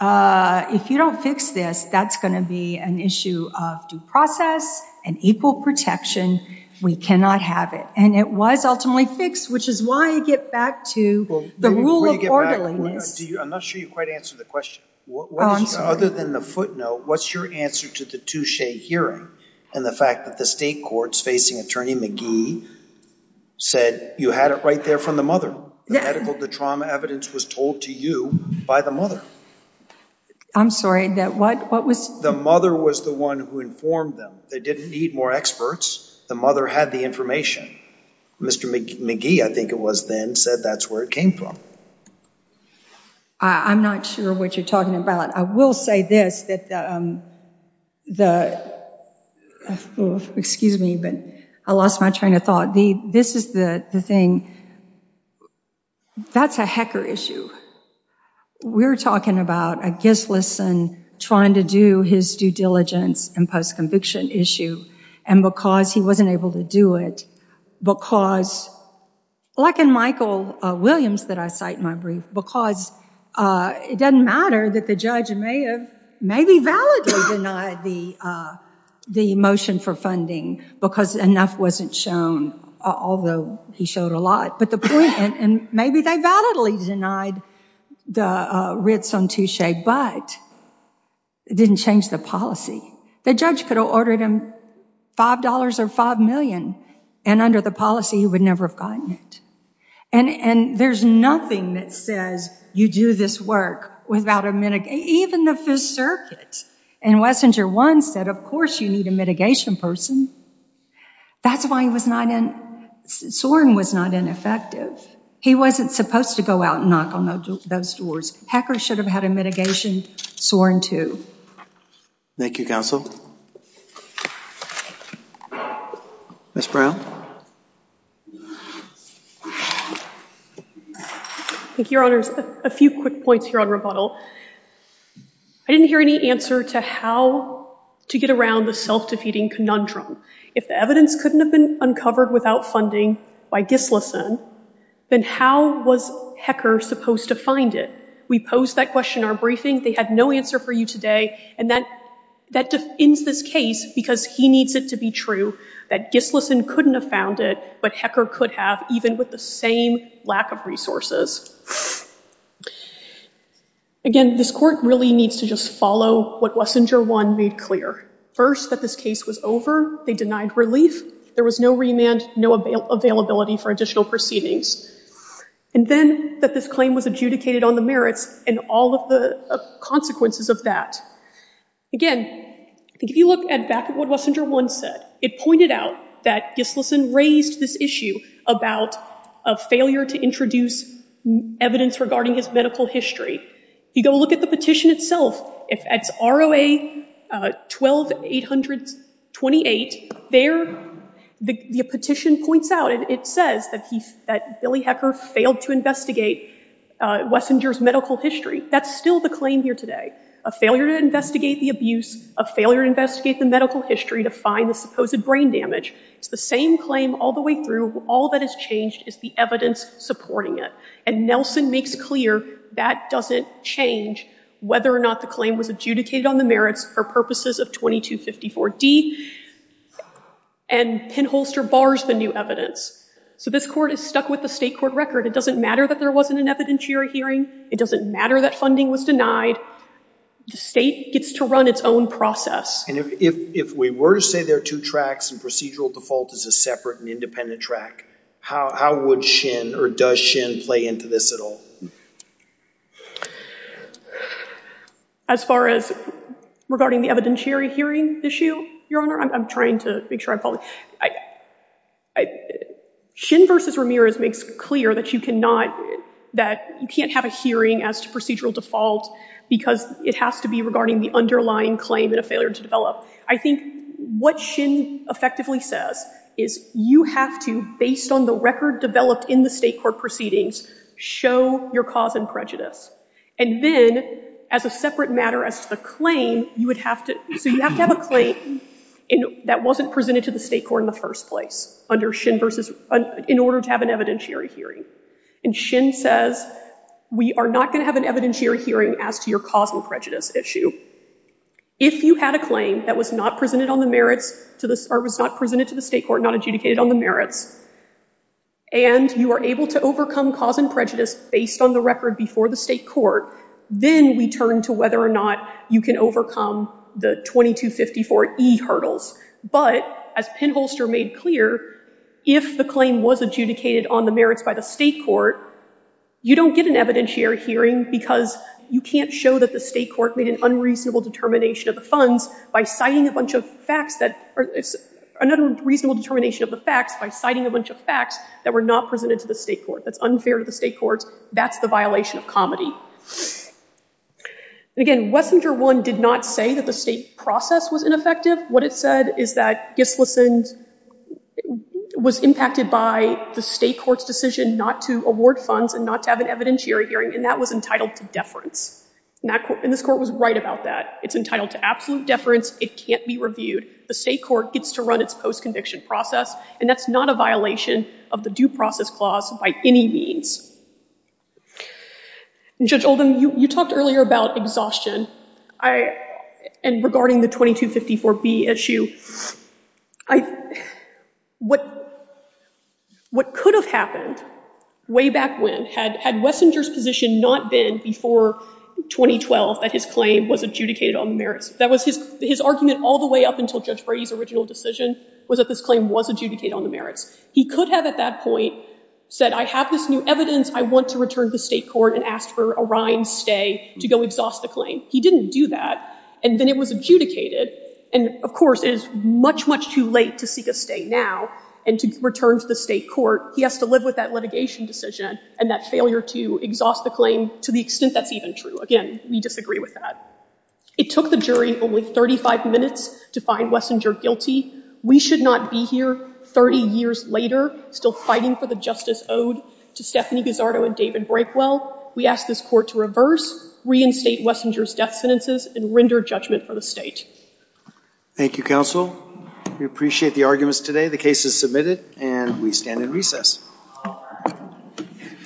if you don't fix this, that's going to be an issue of due process and equal protection. We cannot have it. And it was ultimately fixed, which is why I get back to the rule of orderliness. I'm not sure you quite answered the question. Oh, I'm sorry. Other than the footnote, what's your answer to the Touche hearing and the fact that the state courts facing Attorney McGee said you had it right there from the mother. The medical, the trauma evidence was told to you by the mother. I'm sorry, that what, what was? The mother was the one who informed them. They didn't need more experts. The mother had the information. Mr. McGee, I think it was then, said that's where it came from. I'm not sure what you're talking about. I will say this, that, um, the, excuse me, but I lost my train of thought. The, this is the thing. That's a hecker issue. We're talking about a guiltless son trying to do his due diligence and post-conviction issue. And because he wasn't able to do it, because like in Michael Williams that I cite in my brief, because it doesn't matter that the judge may have maybe validly denied the, the motion for funding because enough wasn't shown, although he showed a lot, but the point, and maybe they validly denied the writs on Touche, but it didn't change the policy. The judge could have ordered him $5 or 5 million and under the policy, he would never have gotten it. And, and there's nothing that says you do this work without a, even the Fifth Circuit and Wessinger once said, of course you need a mitigation person. That's why he was not in, Soren was not ineffective. He wasn't supposed to go out and knock on those doors. Hecker should have had a mitigation sworn to. Thank you, counsel. Ms. Brown. Thank you, your honors. A few quick points here on rebuttal. I didn't hear any answer to how to get around the self-defeating conundrum. If the evidence couldn't have been uncovered without funding by Gislason, then how was Hecker supposed to find it? We posed that question in our briefing. They had no answer for you today. And that, that defends this case because he needs it to be true that Gislason couldn't have found it, but Hecker could have, even with the same lack of resources. Again, this court really needs to just follow what Wessinger 1 made clear. First, that this case was over. They denied relief. There was no remand, no availability for additional proceedings. And then that this claim was adjudicated on the merits and all of the consequences of that. Again, if you look at back at what Wessinger 1 said, it pointed out that Gislason raised this issue about a failure to introduce evidence regarding his medical history. You go look at the petition itself. It's ROA 12-800-28. There, the petition points out, it says that Billy Hecker failed to investigate Wessinger's medical history. That's still the claim here today. A failure to investigate the abuse, a failure to investigate the medical history to find the supposed brain damage. It's the same claim all the way through. All that has changed is the evidence supporting it. And whether or not the claim was adjudicated on the merits for purposes of 2254d. And Penholster bars the new evidence. So this court is stuck with the state court record. It doesn't matter that there wasn't an evidentiary hearing. It doesn't matter that funding was denied. The state gets to run its own process. And if we were to say there are two tracks and procedural default is a separate and independent track, how would Shin or does Shin play into this at all? As far as regarding the evidentiary hearing issue, Your Honor, I'm trying to make sure I'm following. Shin versus Ramirez makes clear that you cannot, that you can't have a hearing as to procedural default because it has to be regarding the underlying claim and a failure to develop. I think what Shin effectively says is you have to, based on the record developed in the case, show your cause and prejudice. And then as a separate matter as to the claim, you would have to, so you have to have a claim that wasn't presented to the state court in the first place under Shin versus, in order to have an evidentiary hearing. And Shin says we are not going to have an evidentiary hearing as to your cause and prejudice issue. If you had a claim that was not presented on the merits to the, or was not presented to the state court, not adjudicated on the merits, and you are able to overcome cause and prejudice based on the record before the state court, then we turn to whether or not you can overcome the 2254E hurdles. But as Penholster made clear, if the claim was adjudicated on the merits by the state court, you don't get an evidentiary hearing because you can't show that the state court made an unreasonable determination of the funds by citing a bunch of facts that, another reasonable determination of the facts by citing a bunch of facts that were not presented to the state court. That's unfair to the state courts. That's the violation of comity. And again, Wessinger 1 did not say that the state process was ineffective. What it said is that Gislason was impacted by the state court's decision not to award funds and not to have an evidentiary hearing, and that was entitled to deference. And this court was right about that. It's entitled to absolute deference. It can't be reviewed. The state court gets to run its post-conviction process, and that's not a violation of the due process clause by any means. Judge Oldham, you talked earlier about exhaustion. And regarding the 2254B issue, what could have happened way back when had Wessinger's position not been before 2012 that his claim was adjudicated on the merits? That was his argument all the way up until Judge Brady's original decision was that this claim was adjudicated on the merits. He could have, at that point, said, I have this new evidence. I want to return to the state court and ask for a rind stay to go exhaust the claim. He didn't do that, and then it was adjudicated. And of course, it is much, much too late to seek a stay now and to return to the state court. He has to live with litigation decision and that failure to exhaust the claim to the extent that's even true. Again, we disagree with that. It took the jury only 35 minutes to find Wessinger guilty. We should not be here 30 years later still fighting for the justice owed to Stephanie Gazzardo and David Breakwell. We ask this court to reverse, reinstate Wessinger's death sentences, and render judgment for the state. Thank you, counsel. We appreciate the arguments today. The case is submitted, and we stand in recess.